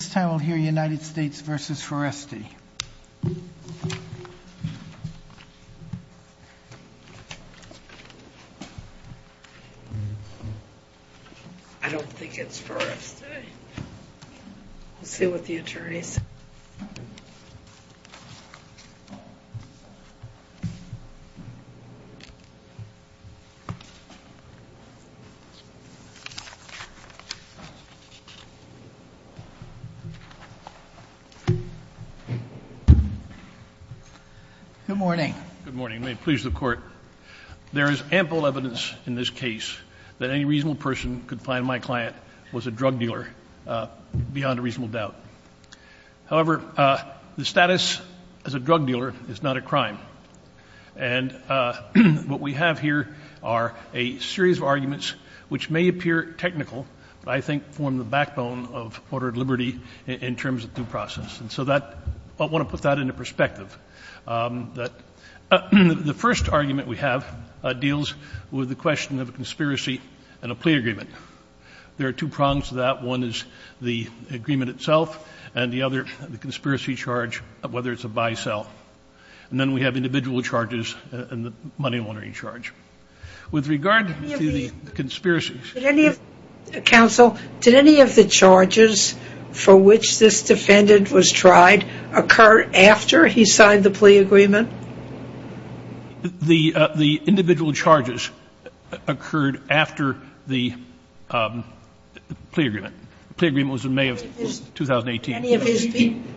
I don't think it's Foreste. We'll see what the attorneys say. Good morning. Good morning. May it please the Court. There is ample evidence in this case that any reasonable person could find my client was a drug dealer beyond a reasonable doubt. However, the status as a drug dealer is not a crime. And what we have here are a series of arguments which may appear technical, but I think form the backbone of Order of Liberty in terms of due process. And so that — I want to put that into perspective. The first argument we have deals with the question of a conspiracy and a plea agreement. There are two prongs to that. One is the agreement itself, and the other, the conspiracy charge, whether it's a buy-sell. And then we have individual charges and the money laundering charge. With regard to the conspiracy — Counsel, did any of the charges for which this defendant was tried occur after he signed the plea agreement? The individual charges occurred after the plea agreement. The plea agreement was in May of 2018.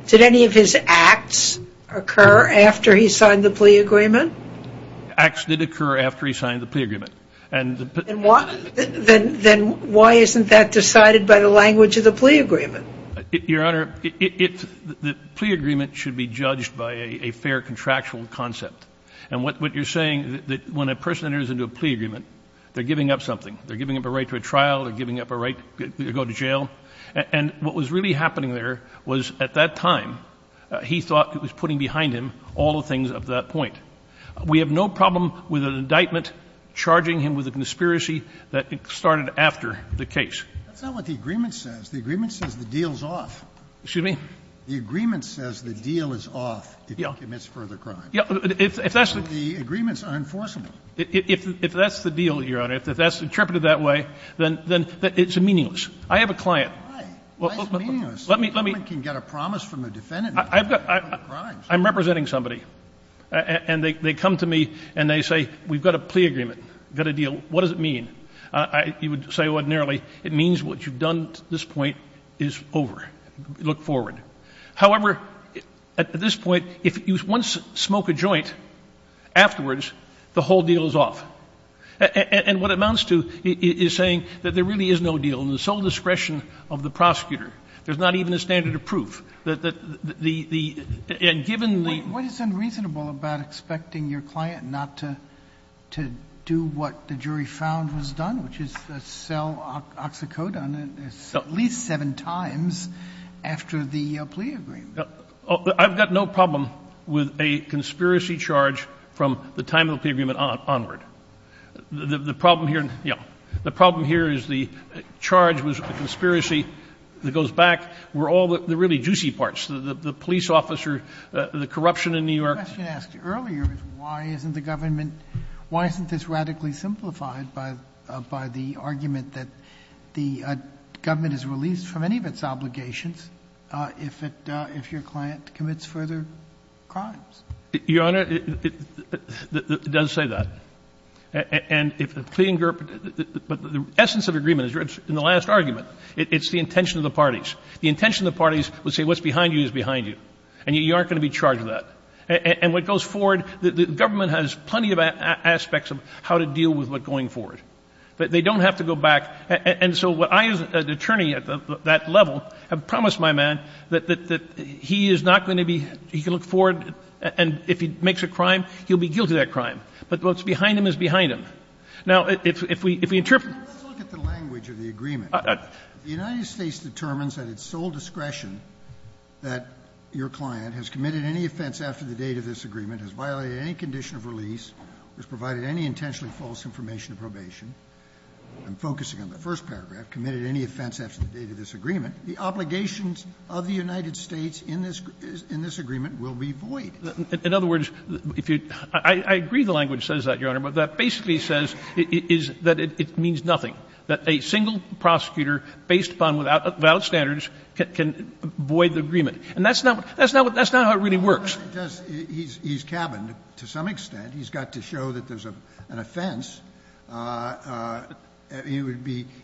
Did any of his acts occur after he signed the plea agreement? Acts did occur after he signed the plea agreement. And the — Then why isn't that decided by the language of the plea agreement? Your Honor, the plea agreement should be judged by a fair contractual concept. And what you're saying, when a person enters into a plea agreement, they're giving up something. They're giving up a right to a trial. They're giving up a right to go to jail. And what was really happening there was, at that time, he thought it was putting behind him all the things up to that point. We have no problem with an indictment charging him with a conspiracy that started after the case. That's not what the agreement says. The agreement says the deal is off. Excuse me? The agreement says the deal is off if he commits further crime. Yeah. If that's the — The agreements are enforceable. If that's the deal, Your Honor, if that's interpreted that way, then it's meaningless. I have a client. Why? Why is it meaningless? Let me — Someone can get a promise from a defendant. I'm representing somebody. And they come to me and they say, we've got a plea agreement. We've got a deal. What does it mean? You would say ordinarily, it means what you've done to this point is over. Look forward. However, at this point, if you once smoke a joint, afterwards, the whole deal is off. And what it amounts to is saying that there really is no deal. In the sole discretion of the prosecutor, there's not even a standard of proof. The — and given the — What is unreasonable about expecting your client not to do what the jury found was done, which is sell oxycodone at least seven times after the plea agreement? I've got no problem with a conspiracy charge from the time of the plea agreement onward. The problem here — yeah. The problem here is the charge was a conspiracy that goes back. We're all the really juicy parts, the police officer, the corruption in New York. The question asked earlier is why isn't the government — why isn't this radically simplified by the argument that the government is released from any of its obligations if it — if your client commits further crimes? Your Honor, it does say that. And if the plea agreement — but the essence of agreement is in the last argument. It's the intention of the parties. The intention of the parties would say what's behind you is behind you. And you aren't going to be charged with that. And what goes forward — the government has plenty of aspects of how to deal with what's going forward. But they don't have to go back. And so what I as an attorney at that level have promised my man, that he is not going to be — he can look forward, and if he makes a crime, he'll be guilty of that crime. But what's behind him is behind him. Now, if we interpret — Let's look at the language of the agreement. The United States determines at its sole discretion that your client has committed any offense after the date of this agreement, has violated any condition of release, has provided any intentionally false information of probation — I'm focusing on the first paragraph — committed any offense after the date of this agreement. The obligations of the United States in this agreement will be void. In other words, if you — I agree the language says that, Your Honor, but that basically says that it means nothing, that a single prosecutor based upon valid standards can void the agreement. And that's not how it really works. It does. He's cabined to some extent. He's got to show that there's an offense. It would be —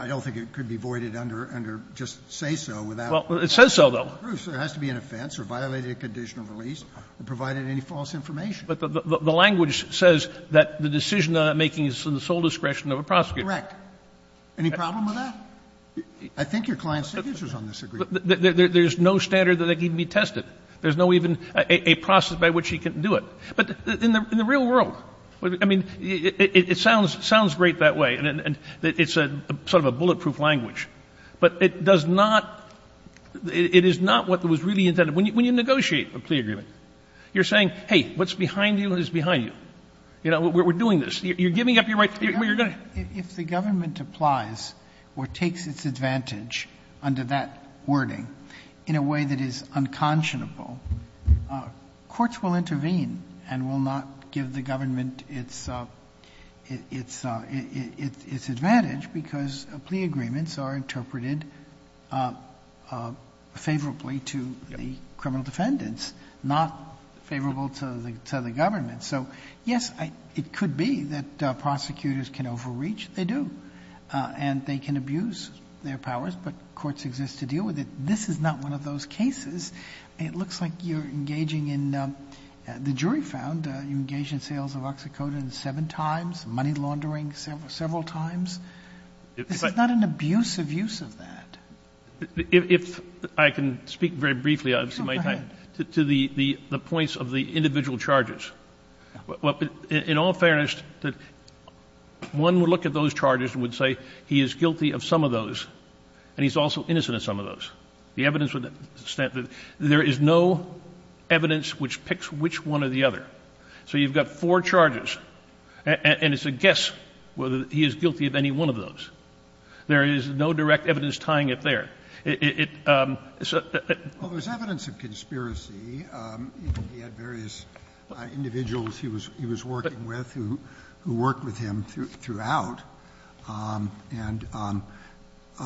I don't think it could be voided under just say so without — Well, it says so, though. There has to be an offense, or violated a condition of release, or provided any false information. But the language says that the decision on that making is at the sole discretion of a prosecutor. Correct. Any problem with that? I think your client's signature is on this agreement. There's no standard that can even be tested. There's no even a process by which he can do it. But in the real world, I mean, it sounds great that way, and it's sort of a bulletproof language, but it does not — it is not what was really intended. When you negotiate a plea agreement, you're saying, hey, what's behind you is behind you. You know, we're doing this. You're giving up your right to — If the government applies or takes its advantage under that wording in a way that is unconscionable, courts will intervene and will not give the government its advantage because plea agreements are interpreted favorably to the criminal defendants, not favorable to the government. So, yes, it could be that prosecutors can overreach. They do. And they can abuse their powers, but courts exist to deal with it. This is not one of those cases. It looks like you're engaging in — the jury found you engaged in sales of OxyContin seven times, money laundering several times. This is not an abusive use of that. If I can speak very briefly, I've seen my time. Go ahead. To the points of the individual charges. In all fairness, one would look at those charges and would say he is guilty of some of those, and he's also innocent of some of those. The evidence would stand — there is no evidence which picks which one or the other. So you've got four charges, and it's a guess whether he is guilty of any one of those. There is no direct evidence tying it there. It — Well, there's evidence of conspiracy. He had various individuals he was working with who worked with him throughout. And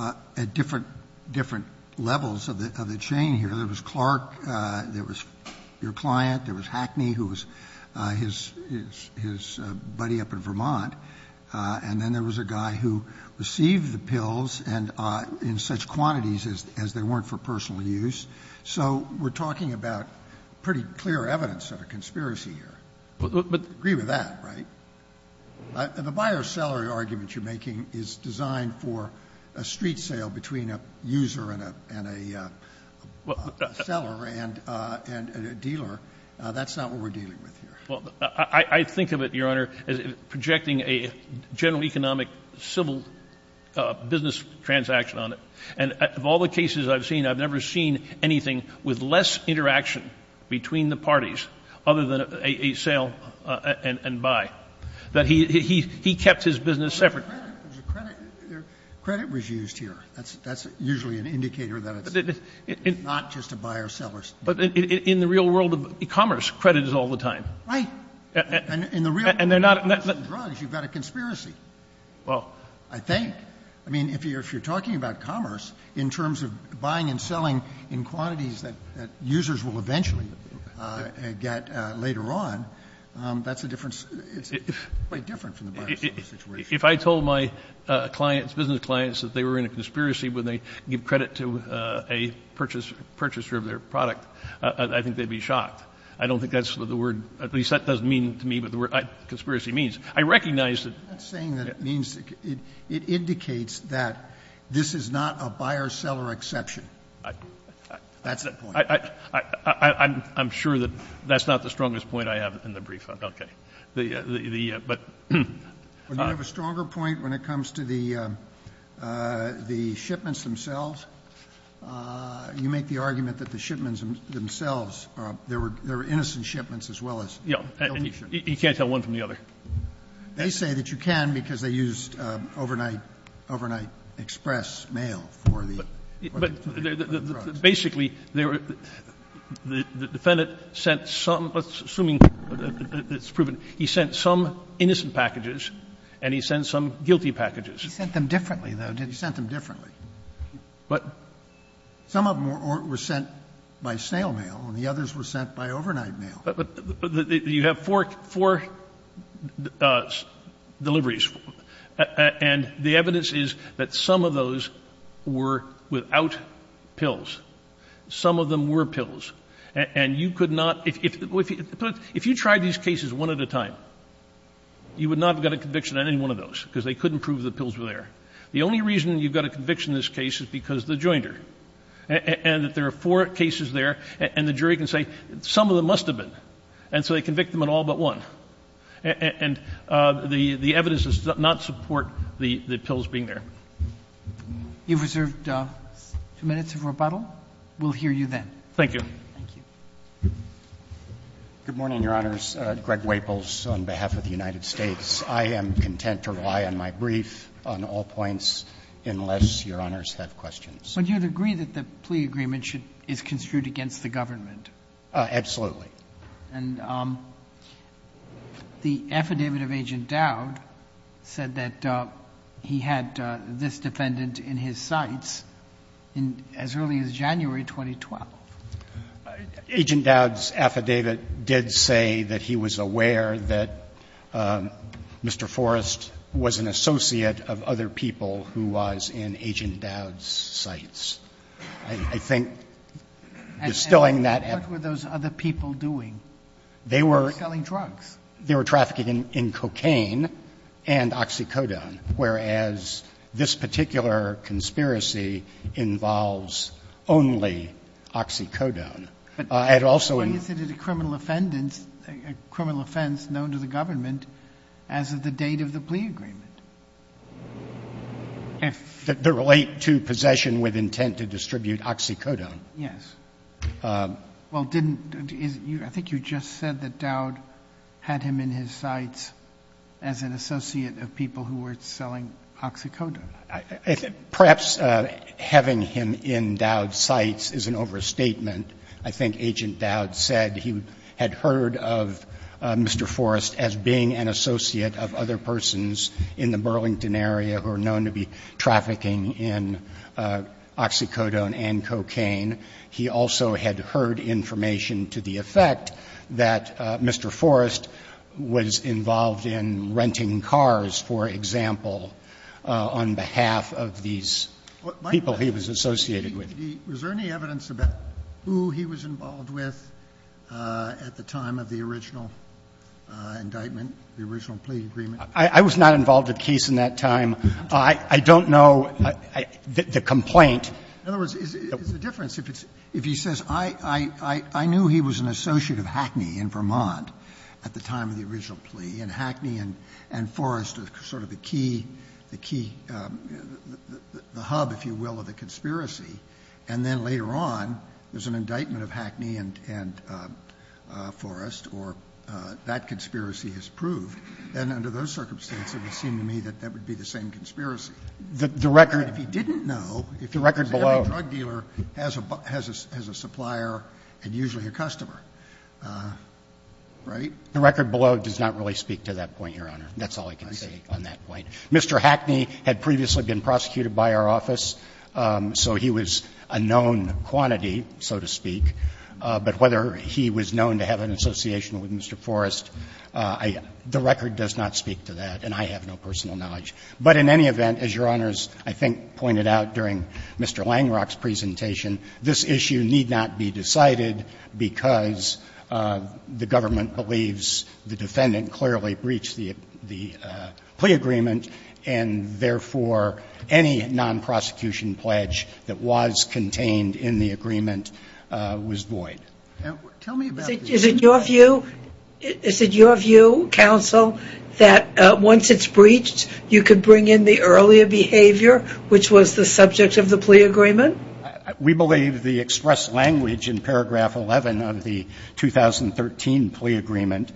at different levels of the chain here, there was Clark, there was your client, there was Hackney, who was his buddy up in Vermont. And then there was a guy who received the pills and in such quantities as they weren't for personal use. So we're talking about pretty clear evidence of a conspiracy here. I agree with that, right? The buyer-seller argument you're making is designed for a street sale between a user and a — Well —— seller and a dealer. That's not what we're dealing with here. Well, I think of it, Your Honor, as projecting a general economic civil business transaction on it. And of all the cases I've seen, I've never seen anything with less interaction between the parties other than a sale and buy. That he kept his business separate. There was a credit. There was a credit. Credit was used here. That's usually an indicator that it's not just a buyer-seller. But in the real world of commerce, credit is all the time. Right. And in the real world of medicine and drugs, you've got a conspiracy. Well — I think. I mean, if you're talking about commerce, in terms of buying and selling in quantities that users will eventually get later on, that's a different — it's quite different from the buyer-seller situation. If I told my clients, business clients, that they were in a conspiracy when they give credit to a purchaser of their product, I think they'd be shocked. I don't think that's the word — at least that doesn't mean to me what the word conspiracy means. I recognize that — I'm not saying that it means — it indicates that this is not a buyer-seller exception. That's the point. I'm sure that that's not the strongest point I have in the brief. Okay. The — but — Well, you have a stronger point when it comes to the shipments themselves. You make the argument that the shipments themselves, there were innocent shipments as well as — Yeah. And you can't tell one from the other. They say that you can because they used overnight express mail for the — But basically, they were — the defendant sent some — assuming it's proven — he sent some innocent packages, and he sent some guilty packages. He sent them differently, though, didn't he? He sent them differently. But — Some of them were sent by snail mail, and the others were sent by overnight mail. But you have four — four deliveries. And the evidence is that some of those were without pills. Some of them were pills. And you could not — if — if you tried these cases one at a time, you would not have got a conviction on any one of those because they couldn't prove the pills were there. The only reason you've got a conviction in this case is because the jointer. And that there are four cases there, and the jury can say some of them must have been. And so they convict them on all but one. And the evidence does not support the pills being there. You've reserved two minutes of rebuttal. We'll hear you then. Thank you. Thank you. Good morning, Your Honors. Greg Waples on behalf of the United States. I am content to rely on my brief on all points unless Your Honors have questions. Would you agree that the plea agreement should — is construed against the government? Absolutely. And the affidavit of Agent Dowd said that he had this defendant in his sights as early as January 2012. Agent Dowd's affidavit did say that he was aware that Mr. Forrest was an associate of other people who was in Agent Dowd's sights. I think distilling that — What were those other people doing? They were — They were selling drugs. They were trafficking in cocaine and oxycodone, whereas this particular conspiracy involves only oxycodone. And also — But isn't it a criminal offense known to the government as of the date of the plea agreement? If — They relate to possession with intent to distribute oxycodone. Yes. Well, didn't — I think you just said that Dowd had him in his sights as an associate of people who were selling oxycodone. Perhaps having him in Dowd's sights is an overstatement. I think Agent Dowd said he had heard of Mr. Forrest as being an associate of other persons in the Burlington area who are known to be trafficking in oxycodone and cocaine. He also had heard information to the effect that Mr. Forrest was involved in renting cars, for example, on behalf of these people he was associated with. Was there any evidence about who he was involved with at the time of the original indictment, the original plea agreement? I was not involved in the case in that time. I don't know the complaint. In other words, is the difference if he says, I knew he was an associate of Hackney in Vermont at the time of the original plea, and Hackney and Forrest are sort of the key, the hub, if you will, of the conspiracy, and then later on there's an indictment of Hackney and Forrest, or that conspiracy has proved. And under those circumstances, it would seem to me that that would be the same conspiracy. If he didn't know, because every drug dealer has a supplier and usually a customer. Right? The record below does not really speak to that point, Your Honor. That's all I can say on that point. Mr. Hackney had previously been prosecuted by our office, so he was a known quantity, so to speak. But whether he was known to have an association with Mr. Forrest, the record does not speak to that, and I have no personal knowledge. But in any event, as Your Honors, I think, pointed out during Mr. Langrock's presentation, this issue need not be decided because the government believes the defendant clearly breached the plea agreement, and therefore, any non-prosecution pledge that was contained in the agreement was void. Tell me about this. Is it your view, counsel, that once it's breached, you could bring in the earlier behavior, which was the subject of the plea agreement? We believe the expressed language in paragraph 11 of the 2013 plea agreement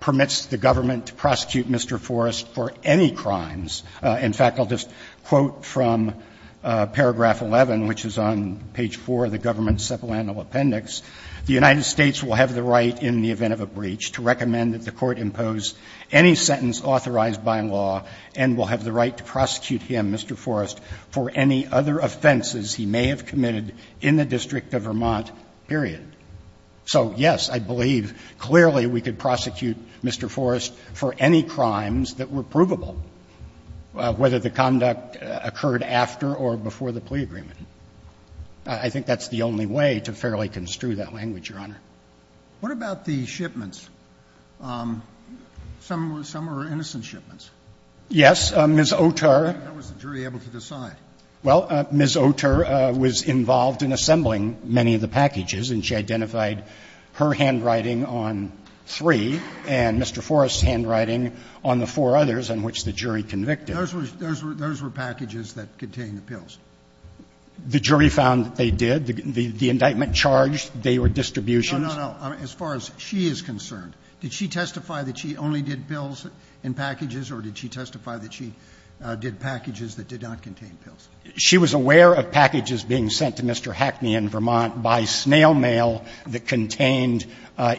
permits the government to prosecute Mr. Forrest for any crimes. In fact, I'll just quote from paragraph 11, which is on page 4 of the government's supplemental appendix. The United States will have the right in the event of a breach to recommend that the Court impose any sentence authorized by law and will have the right to prosecute him, Mr. Forrest, for any other offenses he may have committed in the District of Vermont, period. So, yes, I believe clearly we could prosecute Mr. Forrest for any crimes that were provable, whether the conduct occurred after or before the plea agreement. I think that's the only way to fairly construe that language, Your Honor. What about the shipments? Some were innocent shipments. Yes. Ms. Oterr. How was the jury able to decide? Well, Ms. Oterr was involved in assembling many of the packages, and she identified her handwriting on three and Mr. Forrest's handwriting on the four others on which the jury convicted. Those were packages that contained the pills. The jury found that they did. The indictment charged they were distributions. No, no, no. As far as she is concerned, did she testify that she only did pills in packages or did she testify that she did packages that did not contain pills? She was aware of packages being sent to Mr. Hackney in Vermont by snail mail that contained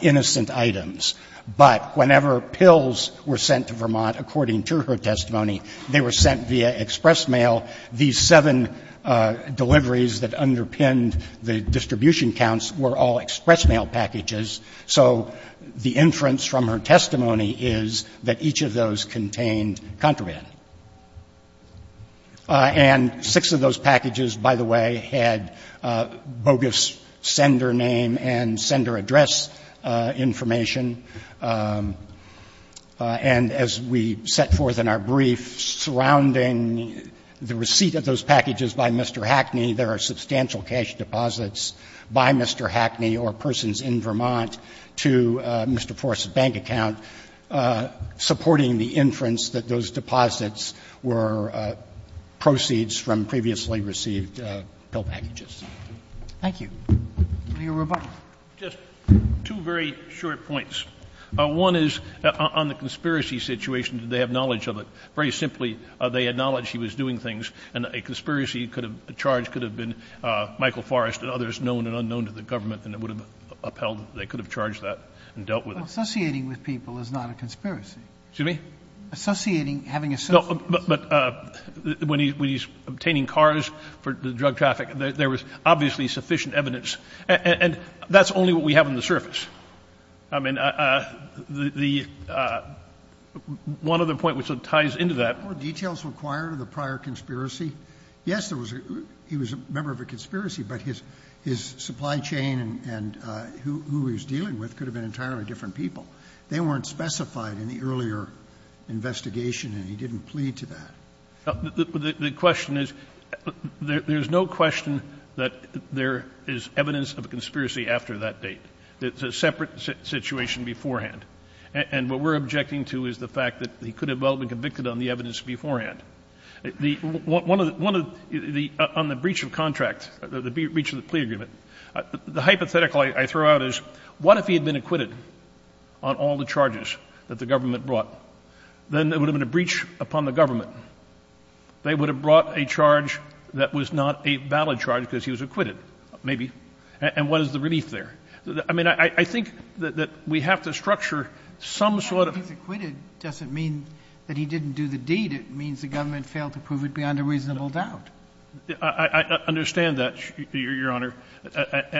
innocent items. But whenever pills were sent to Vermont, according to her testimony, they were sent via express mail. These seven deliveries that underpinned the distribution counts were all express mail packages. So the inference from her testimony is that each of those contained contraband. And six of those packages, by the way, had bogus sender name and sender address information. And as we set forth in our brief surrounding the receipt of those packages by Mr. Hackney, there are substantial cash deposits by Mr. Hackney or persons in Vermont to Mr. Forrest's bank account, supporting the inference that those deposits were proceeds from previously received pill packages. Thank you. Mr. Roberts. Just two very short points. One is on the conspiracy situation, did they have knowledge of it? Very simply, they had knowledge she was doing things, and a conspiracy could have been charged, could have been Michael Forrest and others known and unknown to the government, and it would have upheld that they could have charged that and dealt with it. Well, associating with people is not a conspiracy. Excuse me? Associating, having a sense. No, but when he's obtaining cars for drug traffic, there was obviously sufficient evidence. And that's only what we have on the surface. I mean, the one other point which ties into that. Were details required of the prior conspiracy? Yes, there was a he was a member of a conspiracy, but his supply chain and who he was dealing with could have been entirely different people. They weren't specified in the earlier investigation, and he didn't plead to that. The question is, there's no question that there is evidence of a conspiracy after that date. It's a separate situation beforehand. And what we're objecting to is the fact that he could have well been convicted on the evidence beforehand. One of the one of the on the breach of contract, the breach of the plea agreement, the hypothetical I throw out is, what if he had been acquitted on all the charges that the government brought? Then there would have been a breach upon the government. They would have brought a charge that was not a valid charge because he was acquitted, maybe. And what is the relief there? I mean, I think that we have to structure some sort of. He's acquitted doesn't mean that he didn't do the deed. It means the government failed to prove it beyond a reasonable doubt. I understand that, Your Honor.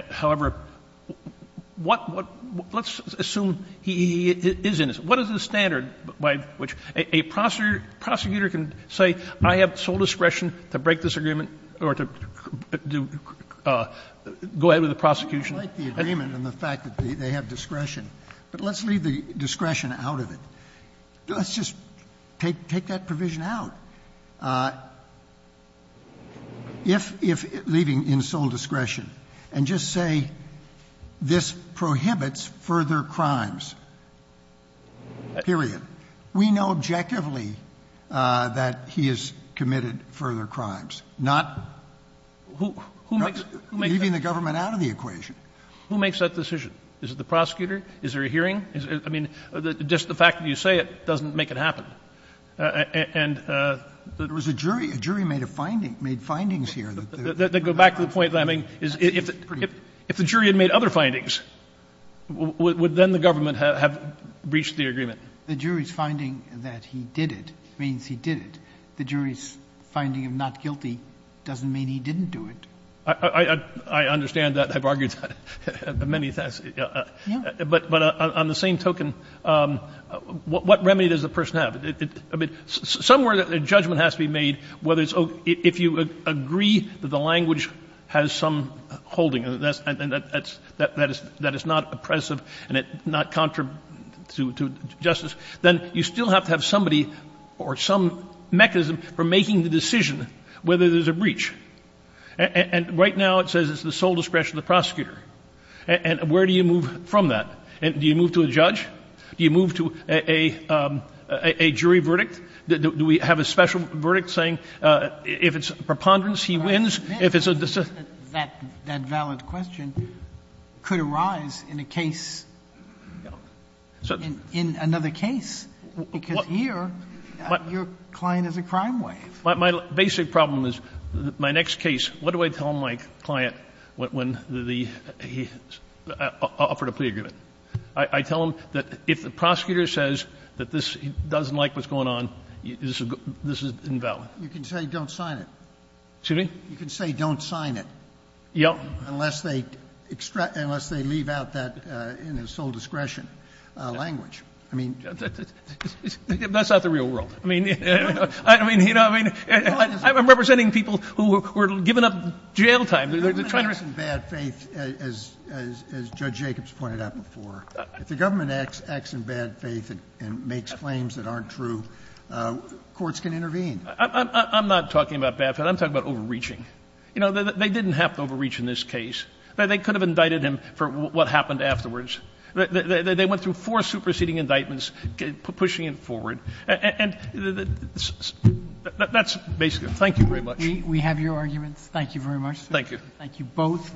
However, what, let's assume he is innocent. What is the standard by which a prosecutor can say, I have sole discretion to break this agreement or to go ahead with the prosecution? Scalia. I like the agreement and the fact that they have discretion. But let's leave the discretion out of it. Let's just take that provision out. If, leaving in sole discretion, and just say this prohibits further crimes, period. We know objectively that he has committed further crimes, not leaving the government out of the equation. Who makes that decision? Is it the prosecutor? Is there a hearing? I mean, just the fact that you say it doesn't make it happen. And there was a jury. A jury made a finding, made findings here. They go back to the point, if the jury had made other findings, would then the government have breached the agreement? The jury's finding that he did it means he did it. The jury's finding of not guilty doesn't mean he didn't do it. I understand that. I've argued that many times. But on the same token, what remedy does the person have? Somewhere a judgment has to be made whether it's okay. If you agree that the language has some holding, and that it's not oppressive and it's not contrary to justice, then you still have to have somebody or some mechanism for making the decision whether there's a breach. And right now it says it's the sole discretion of the prosecutor. And where do you move from that? Do you move to a judge? Do you move to a jury verdict? Do we have a special verdict saying if it's preponderance, he wins? If it's a decision? Sotomayor That valid question could arise in a case, in another case, because here your client is a crime wave. My basic problem is my next case, what do I tell my client when he offered a plea agreement? I tell him that if the prosecutor says that this doesn't like what's going on, this is invalid. Sotomayor You can say don't sign it. You can say don't sign it. Unless they leave out that in a sole discretion language. I mean. Justice Breyer That's not the real world. I mean, you know, I'm representing people who are giving up jail time. They're trying to. Sotomayor Government acts in bad faith, as Judge Jacobs pointed out before. If the government acts in bad faith and makes claims that aren't true, courts can intervene. Justice Breyer I'm not talking about bad faith. I'm talking about overreaching. You know, they didn't have to overreach in this case. They could have indicted him for what happened afterwards. They went through four superseding indictments, pushing him forward. And that's basically it. Thank you very much. Sotomayor We have your arguments. Thank you very much. Thank you. Thank you both.